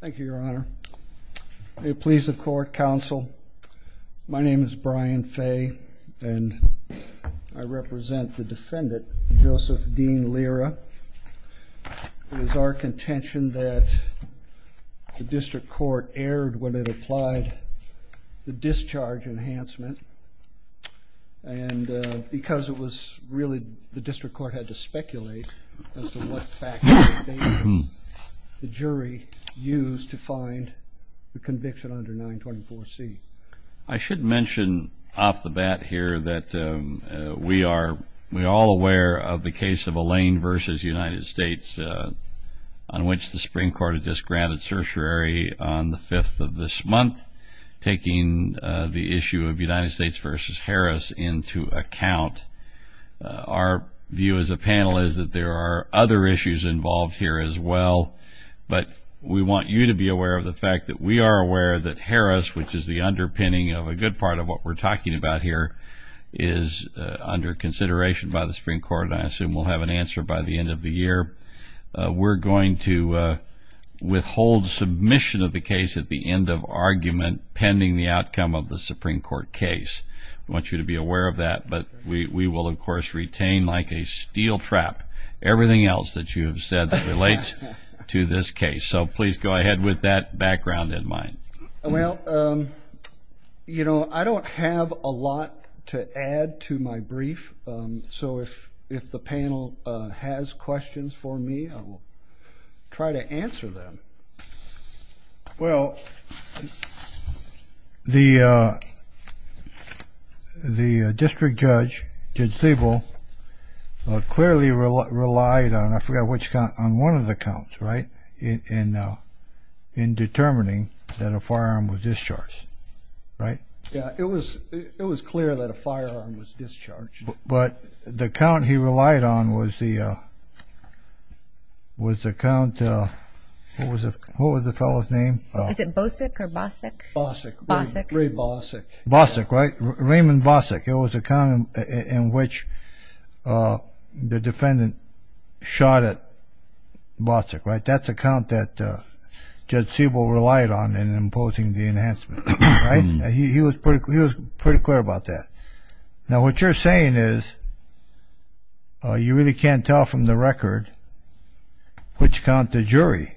Thank you, Your Honor. May it please the Court, Counsel. My name is Brian Fay, and I represent the defendant, Joseph Dean Lira. It is our contention that the District Court erred when it applied the discharge enhancement, and because it was really the District Court had to speculate as to what factors the jury used to find the conviction under 924C. I should mention off the bat here that we are all aware of the case of Allain v. United States, on which the Supreme Court had just granted certiorari on the 5th of this month, taking the issue of United States v. Harris into account. Our view as a panel is that there are other issues involved here as well, but we want you to be aware of the fact that we are aware that Harris, which is the underpinning of a good part of what we're talking about here, is under consideration by the Supreme Court, and I assume we'll have an answer by the end of the year. We're going to withhold submission of the case at the end of argument pending the outcome of the Supreme Court case. I want you to be aware of that, but we will, of course, retain like a steel trap everything else that you have said that relates to this case. So please go ahead with that background in mind. Well, you know, I don't have a lot to add to my brief, so if the panel has questions for me, I will try to answer them. Well, the district judge, Judge Thiebel, clearly relied on, I forgot which count, on one of the counts, right, in determining that a firearm was discharged, right? Yeah, it was clear that a firearm was discharged. But the count he relied on was the count, what was the fellow's name? Is it Bosick or Bossick? Bossick. Ray Bossick. Bossick, right? Raymond Bossick. It was a count in which the defendant shot at Bossick, right? That's a count that Judge Thiebel relied on in imposing the enhancement, right? He was pretty clear about that. Now, what you're saying is you really can't tell from the record which count the jury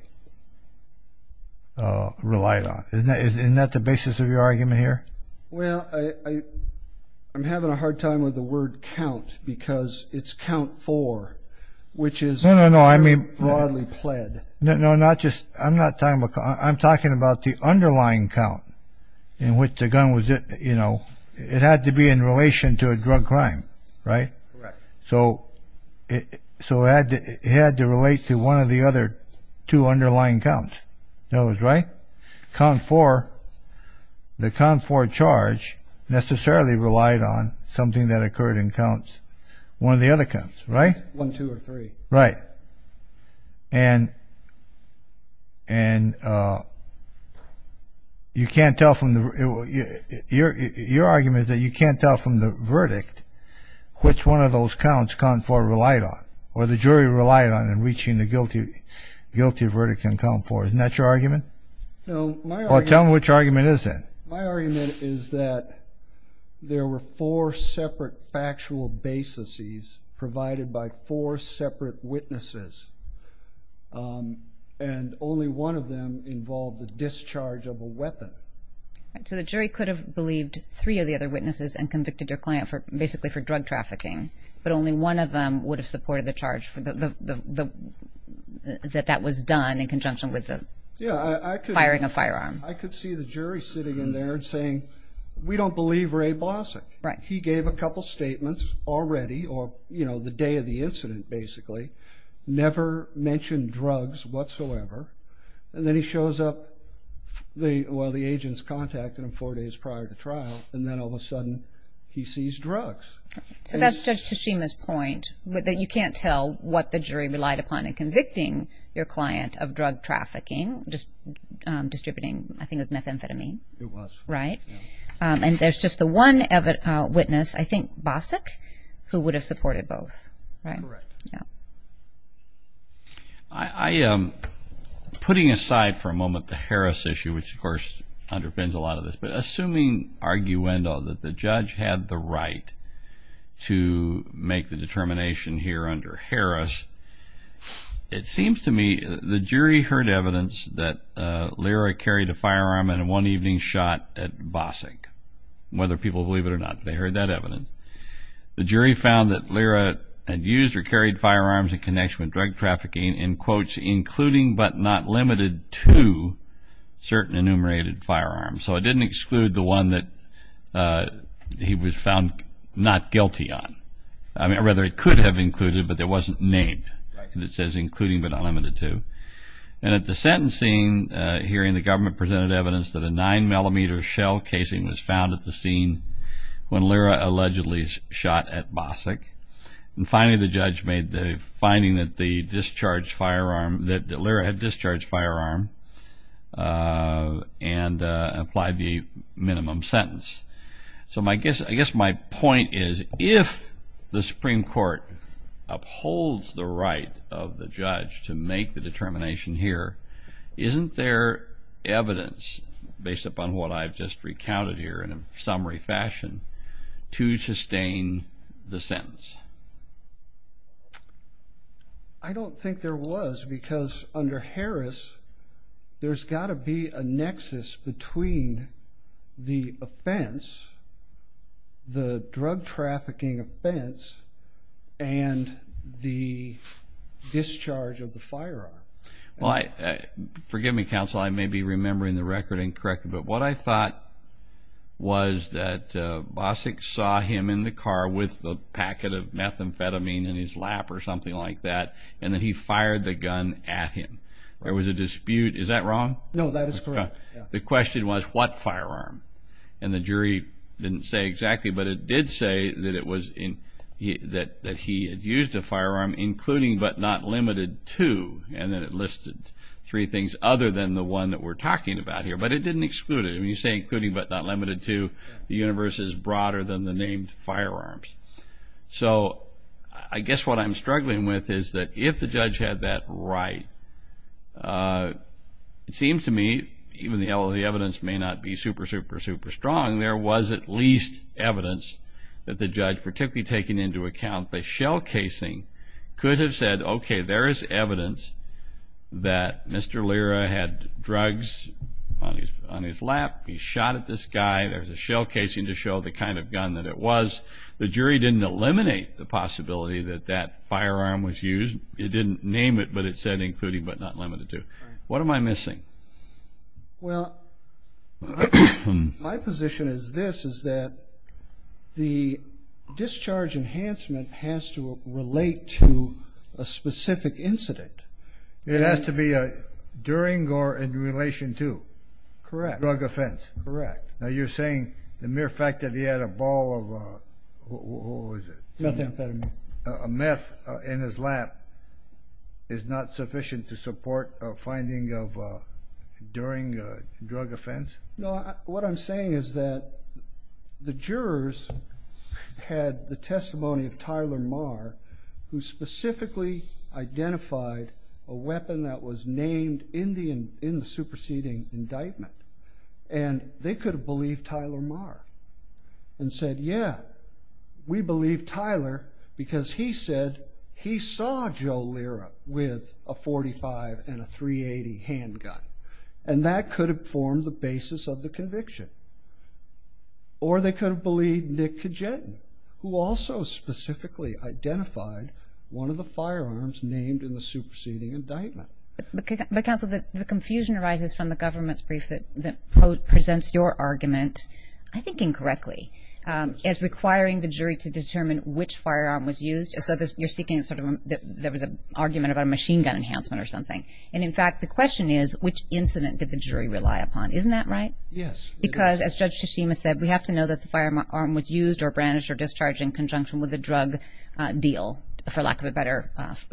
relied on. Isn't that the basis of your argument here? Well, I'm having a hard time with the word count because it's count four, which is very No, no, no, I mean, no, no, not just, I'm not talking about, I'm talking about the underlying count in which the gun was, you know, it had to be in relation to a drug crime, right? Correct. So it had to relate to one of the other two underlying counts, right? Count four, the count four charge necessarily relied on something that occurred in counts, one of the other counts, right? One, two or three. Right. And you can't tell from the, your argument is that you can't tell from the verdict which one of those counts count four relied on, or the jury relied on in reaching the guilty verdict in count four. Isn't that your argument? No, my argument Well, tell me which argument is that? My argument is that there were four separate factual baseses provided by four separate witnesses, and only one of them involved the discharge of a weapon. So the jury could have believed three of the other witnesses and convicted your client for, basically for drug trafficking, but only one of them would have supported the charge for the, that that was done in conjunction with the firing a firearm. I could see the jury sitting in there and saying, we don't believe Ray Blasek. Right. He gave a couple statements already, or, you know, the day of the incident, basically, never mentioned drugs whatsoever. And then he shows up, the, well, the agent's contacted him four days prior to trial, and then all of a sudden he sees drugs. So that's Judge Tashima's point, that you can't tell what the jury relied upon in convicting your client of drug trafficking, just distributing, I think it was methamphetamine. It was. Right. And there's just the one witness, I think Basak, who would have supported both. Right. Correct. Yeah. I, putting aside for a moment the Harris issue, which, of course, underpins a lot of this, but assuming arguendo, that the judge had the right to make the determination here under Harris, it seems to me the jury heard evidence that Lyra carried a firearm and in one evening shot at Basak. Whether people believe it or not, they heard that evidence. The jury found that Lyra had used or carried firearms in connection with drug trafficking in quotes, including but not limited to certain enumerated firearms. So it didn't exclude the one that he was found not guilty on. I mean, or rather, it could have included, but it wasn't named. Right. And it says including but not limited to. And at the sentencing hearing, the government presented evidence that a nine millimeter shell casing was found at the scene when Lyra allegedly shot at Basak. And finally, the judge made the finding that the discharged firearm, that Lyra had discharged firearm and applied the minimum sentence. So my guess, I guess my point is if the Supreme Court upholds the right of the judge to make the determination here, isn't there evidence based upon what I've just recounted here in a summary fashion to sustain the sentence? I don't think there was because under Harris, there's got to be a nexus between the offense, the drug trafficking offense, and the discharge of the firearm. Well, forgive me, counsel. I may be remembering the record incorrectly. But what I thought was that Basak saw him in the car with a packet of methamphetamine in his lap or something like that. And then he fired the gun at him. There was a dispute. Is that wrong? No, that is correct. The question was what firearm? And the jury didn't say exactly. But it did say that he had used a firearm including but not limited to. And then it listed three things other than the one that we're talking about here. But it didn't exclude it. When you say including but not limited to, the universe is broader than the named firearms. So I guess what I'm struggling with is that if the judge had that right, it seems to me even though the evidence may not be super, super, super strong, there was at least evidence that the judge, particularly taking into account the shell casing, could have said, okay, there is evidence that Mr. Lira had drugs on his lap. He shot at this guy. There's a shell casing to show the kind of gun that it was. The jury didn't eliminate the possibility that that firearm was used. It didn't name it, but it said including but not limited to. What am I missing? Well, my position is this, is that the discharge enhancement has to relate to a specific incident. It has to be during or in relation to? Correct. Drug offense. Correct. Now you're saying the mere fact that he had a ball of, what was it? Methamphetamine. Meth in his lap is not sufficient to support a finding during a drug offense? No, what I'm saying is that the jurors had the testimony of Tyler Marr, who specifically identified a weapon that was named in the superseding indictment. And they could have believed Tyler Marr and said, yeah, we believe Tyler because he said he saw Joe Lira with a .45 and a .380 handgun. And that could have formed the basis of the conviction. Or they could have believed Nick Kajetan, who also specifically identified one of the firearms named in the superseding indictment. But counsel, the confusion arises from the government's brief that presents your argument, I think incorrectly, as requiring the jury to determine which firearm was used. So you're seeking sort of, there was an argument about a machine gun enhancement or something. And, in fact, the question is, which incident did the jury rely upon? Isn't that right? Yes. Because, as Judge Tsushima said, we have to know that the firearm was used or brandished or discharged in conjunction with a drug deal, for lack of a better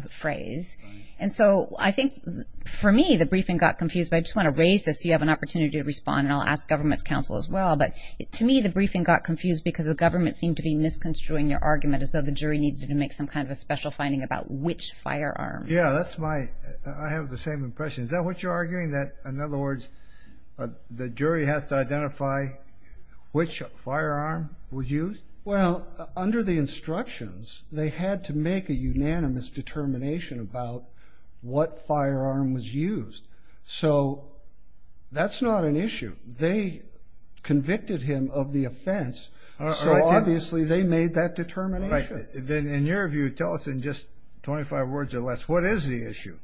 phrase. And so I think, for me, the briefing got confused. But I just want to raise this so you have an opportunity to respond. And I'll ask government's counsel as well. But, to me, the briefing got confused because the government seemed to be misconstruing your argument as though the jury needed to make some kind of a special finding about which firearm. Yeah, that's my, I have the same impression. Is that what you're arguing? That, in other words, the jury has to identify which firearm was used? Well, under the instructions, they had to make a unanimous determination about what firearm was used. So, that's not an issue. They convicted him of the offense. So, obviously, they made that determination. Right. Then, in your view, tell us in just 25 words or less, what is the issue?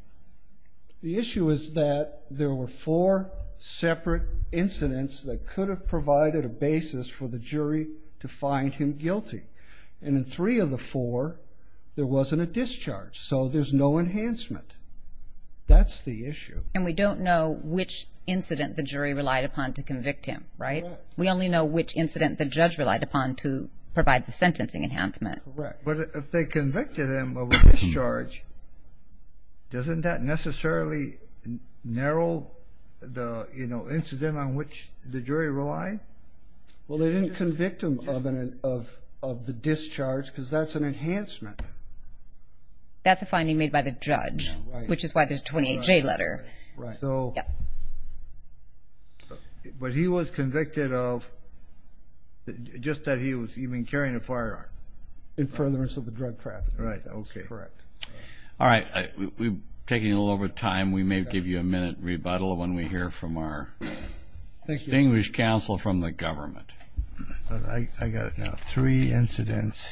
The issue is that there were four separate incidents that could have provided a basis for the jury to find him guilty. And in three of the four, there wasn't a discharge. So, there's no enhancement. That's the issue. And we don't know which incident the jury relied upon to convict him, right? Correct. We only know which incident the judge relied upon to provide the sentencing enhancement. Correct. But if they convicted him of a discharge, doesn't that necessarily narrow the, you know, incident on which the jury relied? Well, they didn't convict him of the discharge because that's an enhancement. That's a finding made by the judge. Right. Which is why there's a 28-J letter. Right. So, but he was convicted of just that he was even carrying a firearm. In furtherance of the drug trafficking. Right. Okay. That's correct. All right. We're taking a little over time. We may give you a minute rebuttal when we hear from our distinguished counsel from the government. I got it now. Three incidents.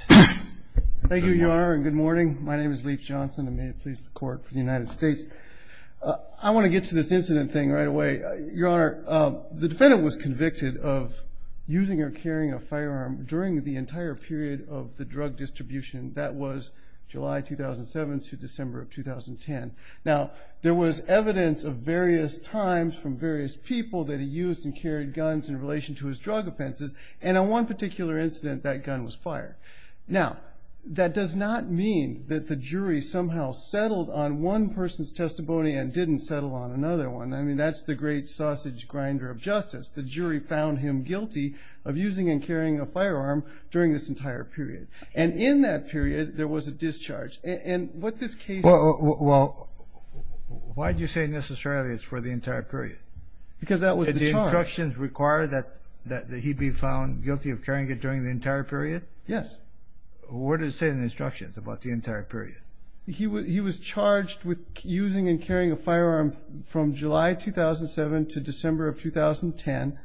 Thank you, Your Honor, and good morning. My name is Leif Johnson and may it please the court for the United States. I want to get to this incident thing right away. Your Honor, the defendant was convicted of using or carrying a firearm during the entire period of the drug distribution. That was July 2007 to December of 2010. Now, there was evidence of various times from various people that he used and carried guns in relation to his drug offenses. And on one particular incident, that gun was fired. Now, that does not mean that the jury somehow settled on one person's testimony and didn't settle on another one. I mean, that's the great sausage grinder of justice. The jury found him guilty of using and carrying a firearm during this entire period. And in that period, there was a discharge. And what this case... Well, why do you say necessarily it's for the entire period? Because that was the charge. Did the instructions require that he be found guilty of carrying it during the entire period? Yes. What did it say in the instructions about the entire period? He was charged with using and carrying a firearm from July 2007 to December of 2010.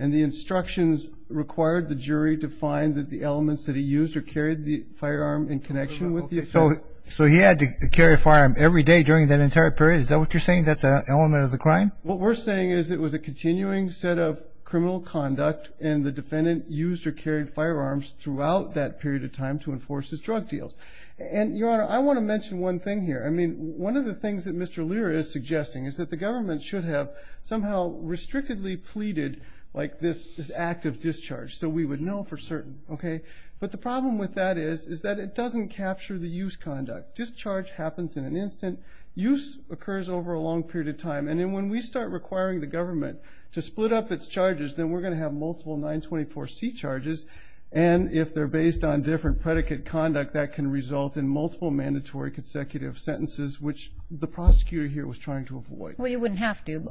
And the instructions required the jury to find the elements that he used or carried the firearm in connection with the offense. So he had to carry a firearm every day during that entire period? Is that what you're saying? That's an element of the crime? What we're saying is it was a continuing set of criminal conduct. And the defendant used or carried firearms throughout that period of time to enforce his drug deals. And, Your Honor, I want to mention one thing here. I mean, one of the things that Mr. Lear is suggesting is that the government should have somehow restrictedly pleaded like this is active discharge. So we would know for certain, okay? But the problem with that is, is that it doesn't capture the use conduct. Discharge happens in an instant. Use occurs over a long period of time. And then when we start requiring the government to split up its charges, then we're going to have multiple 924C charges. And if they're based on different predicate conduct, that can result in multiple mandatory consecutive sentences, which the prosecutor here was trying to avoid. Well, you wouldn't have to.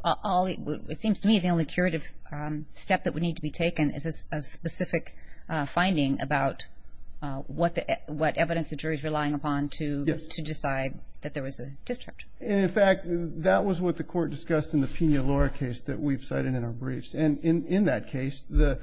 It seems to me the only curative step that would need to be taken is a specific finding about what evidence the jury's relying upon to decide that there was a discharge. And, in fact, that was what the court discussed in the Pina Lora case that we've cited in our briefs. And in that case, the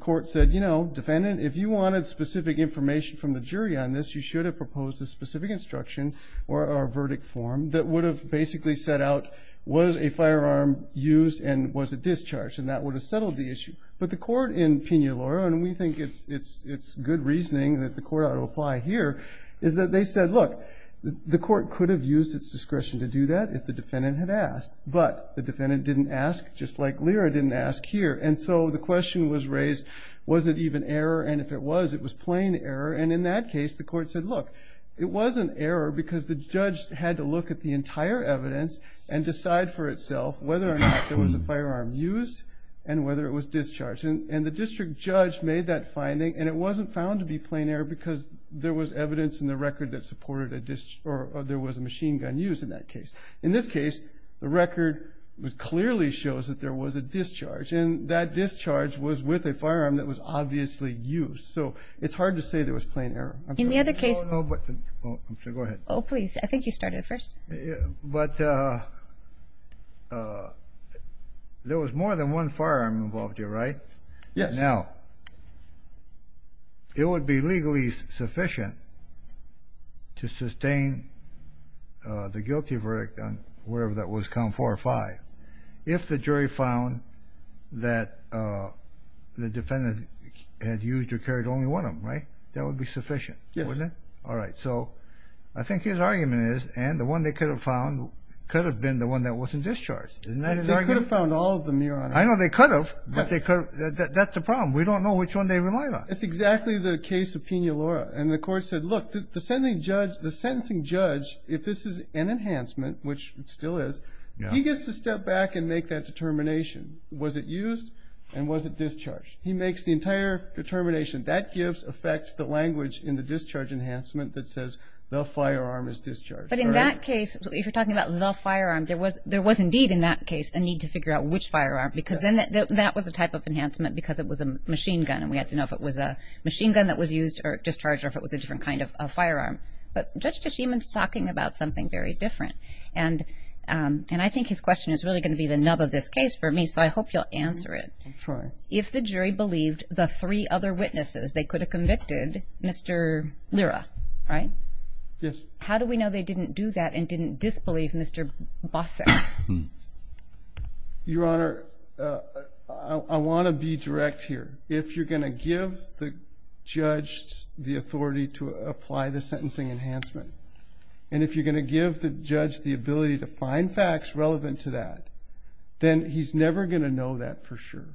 court said, you know, defendant, if you wanted specific information from the jury on this, you should have proposed a specific instruction or a verdict form that would have basically set out, was a firearm used and was it discharged? And that would have settled the issue. But the court in Pina Lora, and we think it's good reasoning that the court ought to apply here, is that they said, look, the court could have used its discretion to do that if the defendant had asked. But the defendant didn't ask, just like Lira didn't ask here. And so the question was raised, was it even error? And if it was, it was plain error. And in that case, the court said, look, it was an error because the judge had to look at the entire evidence and decide for itself whether or not there was a firearm used and whether it was discharged. And the district judge made that finding. And it wasn't found to be plain error because there was evidence in the record that supported a, or there was a machine gun used in that case. In this case, the record clearly shows that there was a discharge. And that discharge was with a firearm that was obviously used. So it's hard to say there was plain error. I'm sorry. No, no. I'm sorry. Go ahead. Oh, please. I think you started first. But there was more than one firearm involved here, right? Yes. Now, it would be legally sufficient to sustain the guilty verdict on whatever that was, count four or five, if the jury found that the defendant had used or carried only one of them, right? That would be sufficient, wouldn't it? Yes. All right. So I think his argument is, and the one they could have found could have been the one that wasn't discharged. Isn't that his argument? They could have found all of them, Your Honor. I know they could have, but that's the problem. We don't know which one they relied on. It's exactly the case of Pina Lora. And the court said, look, the sentencing judge, if this is an enhancement, which it still is, he gets to step back and make that determination. Was it used? And was it discharged? He makes the entire determination. That gives, affects the language in the discharge enhancement that says, the firearm is discharged. But in that case, if you're talking about the firearm, there was indeed in that case a need to figure out which firearm, because then that was a type of enhancement because it was a machine gun. And we had to know if it was a machine gun that was used or discharged or if it was a different kind of firearm. But Judge Teshiman's talking about something very different. And I think his question is really going to be the nub of this case for me. So I hope you'll answer it. Sure. If the jury believed the three other witnesses, they could have convicted Mr. Lira, right? Yes. How do we know they didn't do that and didn't disbelieve Mr. Bosseck? Your Honor, I want to be direct here. If you're going to give the judge the authority to apply the sentencing enhancement, and if you're going to give the judge the ability to find facts relevant to that, then he's never going to know that for sure.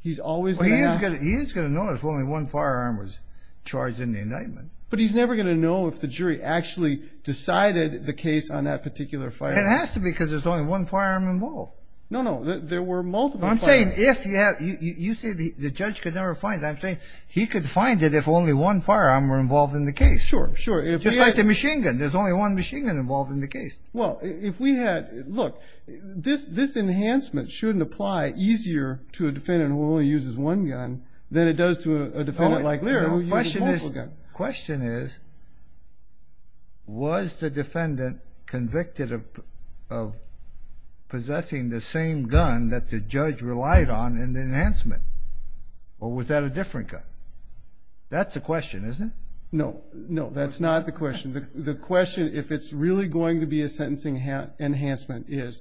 He is going to know if only one firearm was charged in the indictment. But he's never going to know if the jury actually decided the case on that particular firearm. It has to be because there's only one firearm involved. No, no. There were multiple firearms. I'm saying if you have, you say the judge could never find it. I'm saying he could find it if only one firearm were involved in the case. Sure, sure. Just like the machine gun. There's only one machine gun involved in the case. Well, if we had, look, this enhancement shouldn't apply easier to a defendant who only uses one gun than it does to a defendant like Lira who uses multiple guns. The question is, was the defendant convicted of possessing the same gun that the judge relied on in the enhancement? Or was that a different gun? That's the question, isn't it? No, no. That's not the question. The question, if it's really going to be a sentencing enhancement, is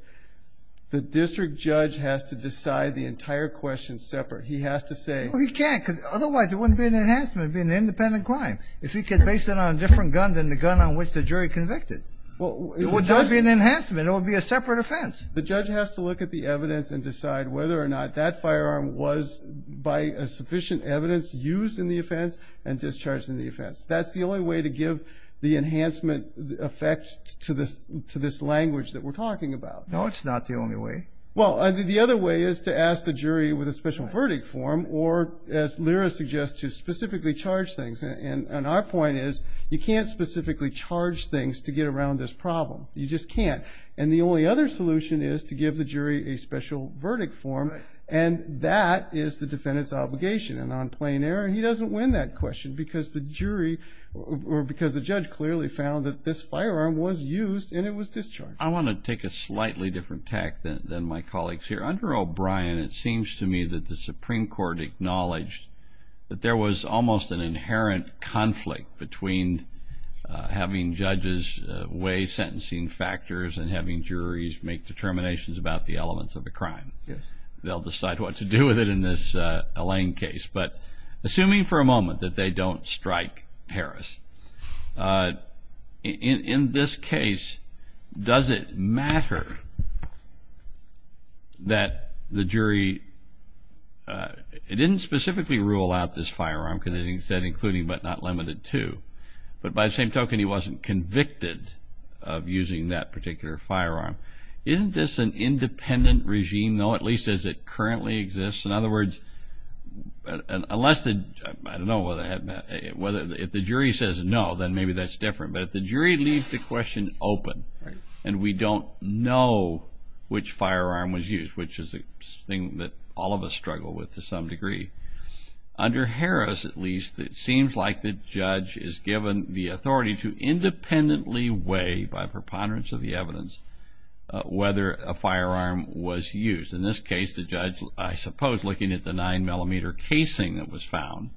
the district judge has to decide the entire question separate. He has to say. Well, he can't because otherwise it wouldn't be an enhancement. It would be an independent crime. If he could base it on a different gun than the gun on which the jury convicted, it would not be an enhancement. It would be a separate offense. The judge has to look at the evidence and decide whether or not that firearm was, by sufficient evidence, used in the offense and discharged in the offense. That's the only way to give the enhancement effect to this language that we're talking about. No, it's not the only way. Well, the other way is to ask the jury with a special verdict form or, as Lira suggests, to specifically charge things. And our point is you can't specifically charge things to get around this problem. You just can't. And the only other solution is to give the jury a special verdict form. And that is the defendant's obligation. And on plain error, he doesn't win that question because the jury or because the judge clearly found that this firearm was used and it was discharged. I want to take a slightly different tack than my colleagues here. Under O'Brien, it seems to me that the Supreme Court acknowledged that there was almost an inherent conflict between having judges weigh sentencing factors and having juries make determinations about the elements of the crime. Yes. They'll decide what to do with it in this Allain case. But assuming for a moment that they don't strike Harris, in this case, does it matter that the jury didn't specifically rule out this firearm because it said including but not limited to. But by the same token, he wasn't convicted of using that particular firearm. Isn't this an independent regime, though, at least as it currently exists? In other words, unless the jury says no, then maybe that's different. But if the jury leaves the question open and we don't know which firearm was used, which is a thing that all of us struggle with to some degree, under Harris, at least, it seems like the judge is given the authority to independently weigh, by preponderance of the evidence, whether a firearm was used. In this case, the judge, I suppose looking at the 9-millimeter casing that was found,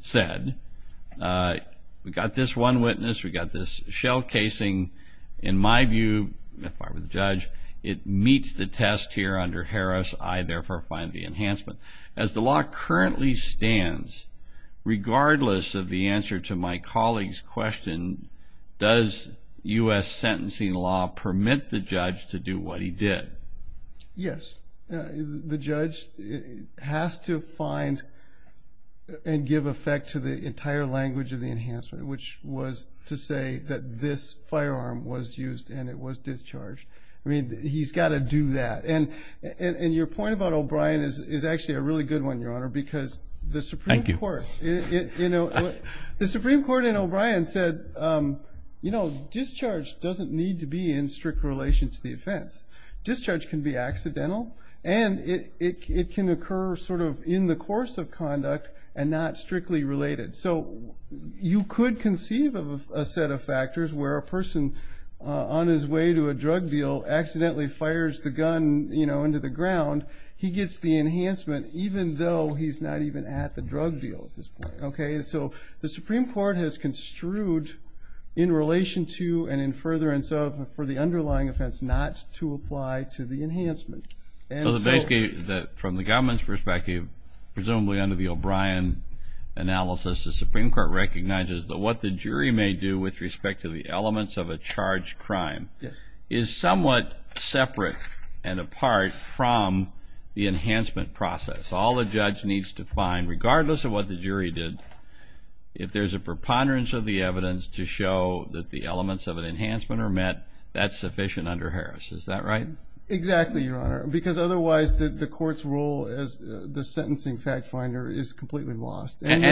said, we've got this one witness, we've got this shell casing. In my view, if I were the judge, it meets the test here under Harris. I, therefore, find the enhancement. As the law currently stands, regardless of the answer to my colleague's question, does U.S. sentencing law permit the judge to do what he did? Yes. The judge has to find and give effect to the entire language of the enhancement, which was to say that this firearm was used and it was discharged. I mean, he's got to do that. And your point about O'Brien is actually a really good one, Your Honor, because the Supreme Court in O'Brien said, you know, discharge doesn't need to be in strict relation to the offense. Discharge can be accidental and it can occur sort of in the course of conduct and not strictly related. So you could conceive of a set of factors where a person on his way to a drug deal accidentally fires the gun, you know, into the ground. He gets the enhancement even though he's not even at the drug deal at this point, okay? So the Supreme Court has construed in relation to and in furtherance of for the underlying offense not to apply to the enhancement. So basically from the government's perspective, presumably under the O'Brien analysis, the Supreme Court recognizes that what the jury may do with respect to the elements of a charged crime is somewhat separate and apart from the enhancement process. All the judge needs to find, regardless of what the jury did, if there's a preponderance of the evidence to show that the elements of an enhancement are met, that's sufficient under Harris. Is that right? Exactly, Your Honor, because otherwise the court's role as the sentencing fact finder is completely lost. And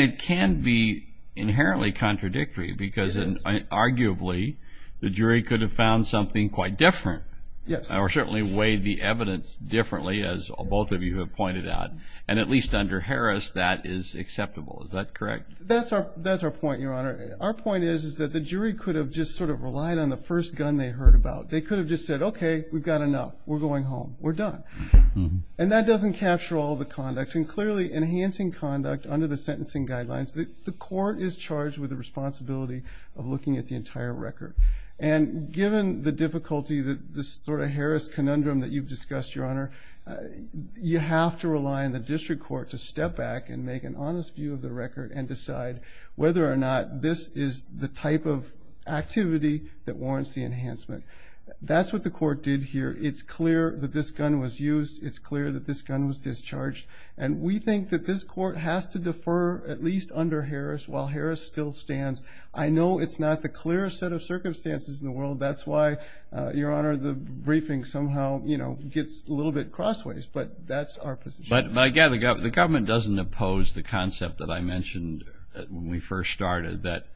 it can be inherently contradictory because arguably the jury could have found something quite different. Yes. Or certainly weighed the evidence differently, as both of you have pointed out, and at least under Harris that is acceptable. Is that correct? That's our point, Your Honor. Our point is that the jury could have just sort of relied on the first gun they heard about. They could have just said, okay, we've got enough. We're going home. We're done. And that doesn't capture all the conduct. And clearly enhancing conduct under the sentencing guidelines, the court is charged with the responsibility of looking at the entire record. And given the difficulty that this sort of Harris conundrum that you've discussed, Your Honor, you have to rely on the district court to step back and make an honest view of the record and decide whether or not this is the type of activity that warrants the enhancement. That's what the court did here. It's clear that this gun was used. It's clear that this gun was discharged. And we think that this court has to defer at least under Harris while Harris still stands. I know it's not the clearest set of circumstances in the world. That's why, Your Honor, the briefing somehow gets a little bit crossways. But that's our position. But, again, the government doesn't oppose the concept that I mentioned when we first started, that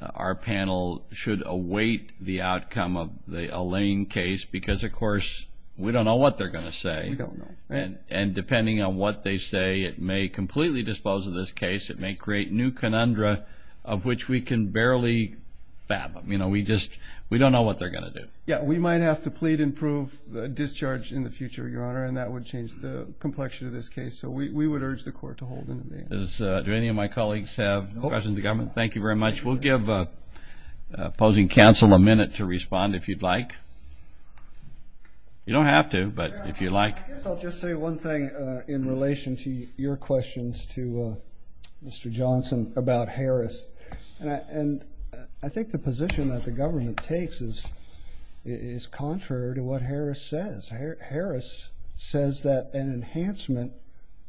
our panel should await the outcome of the Allain case because, of course, we don't know what they're going to say. We don't know. And depending on what they say, it may completely dispose of this case. It may create new conundra of which we can barely fathom. You know, we just don't know what they're going to do. Yeah, we might have to plead and prove discharge in the future, Your Honor, and that would change the complexion of this case. So we would urge the court to hold an advance. Do any of my colleagues have questions of the government? Thank you very much. We'll give opposing counsel a minute to respond if you'd like. You don't have to, but if you'd like. I guess I'll just say one thing in relation to your questions to Mr. Johnson about Harris. And I think the position that the government takes is contrary to what Harris says. Harris says that an enhancement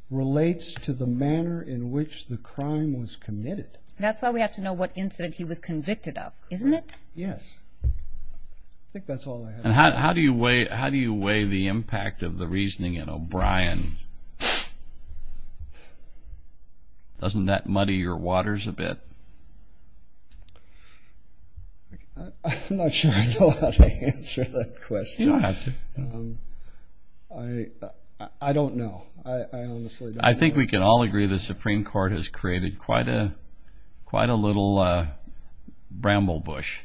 relates to the manner in which the crime was committed. That's why we have to know what incident he was convicted of, isn't it? Yes. I think that's all I have. And how do you weigh the impact of the reasoning in O'Brien? Doesn't that muddy your waters a bit? I'm not sure I know how to answer that question. You don't have to. I don't know. I honestly don't know. I think we can all agree the Supreme Court has created quite a little bramble bush.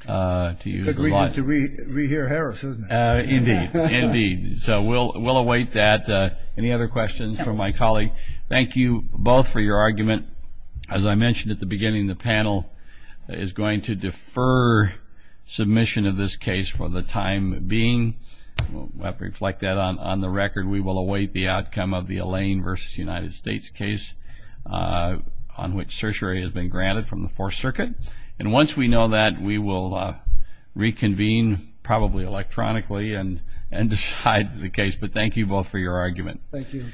It's a good reason to re-hear Harris, isn't it? Indeed. Indeed. So we'll await that. Any other questions from my colleague? Thank you both for your argument. As I mentioned at the beginning, the panel is going to defer submission of this case for the time being. We'll have to reflect that on the record. We will await the outcome of the Elaine v. United States case on which certiorari has been granted from the Fourth Circuit. And once we know that, we will reconvene, probably electronically, and decide the case. But thank you both for your argument. Thank you.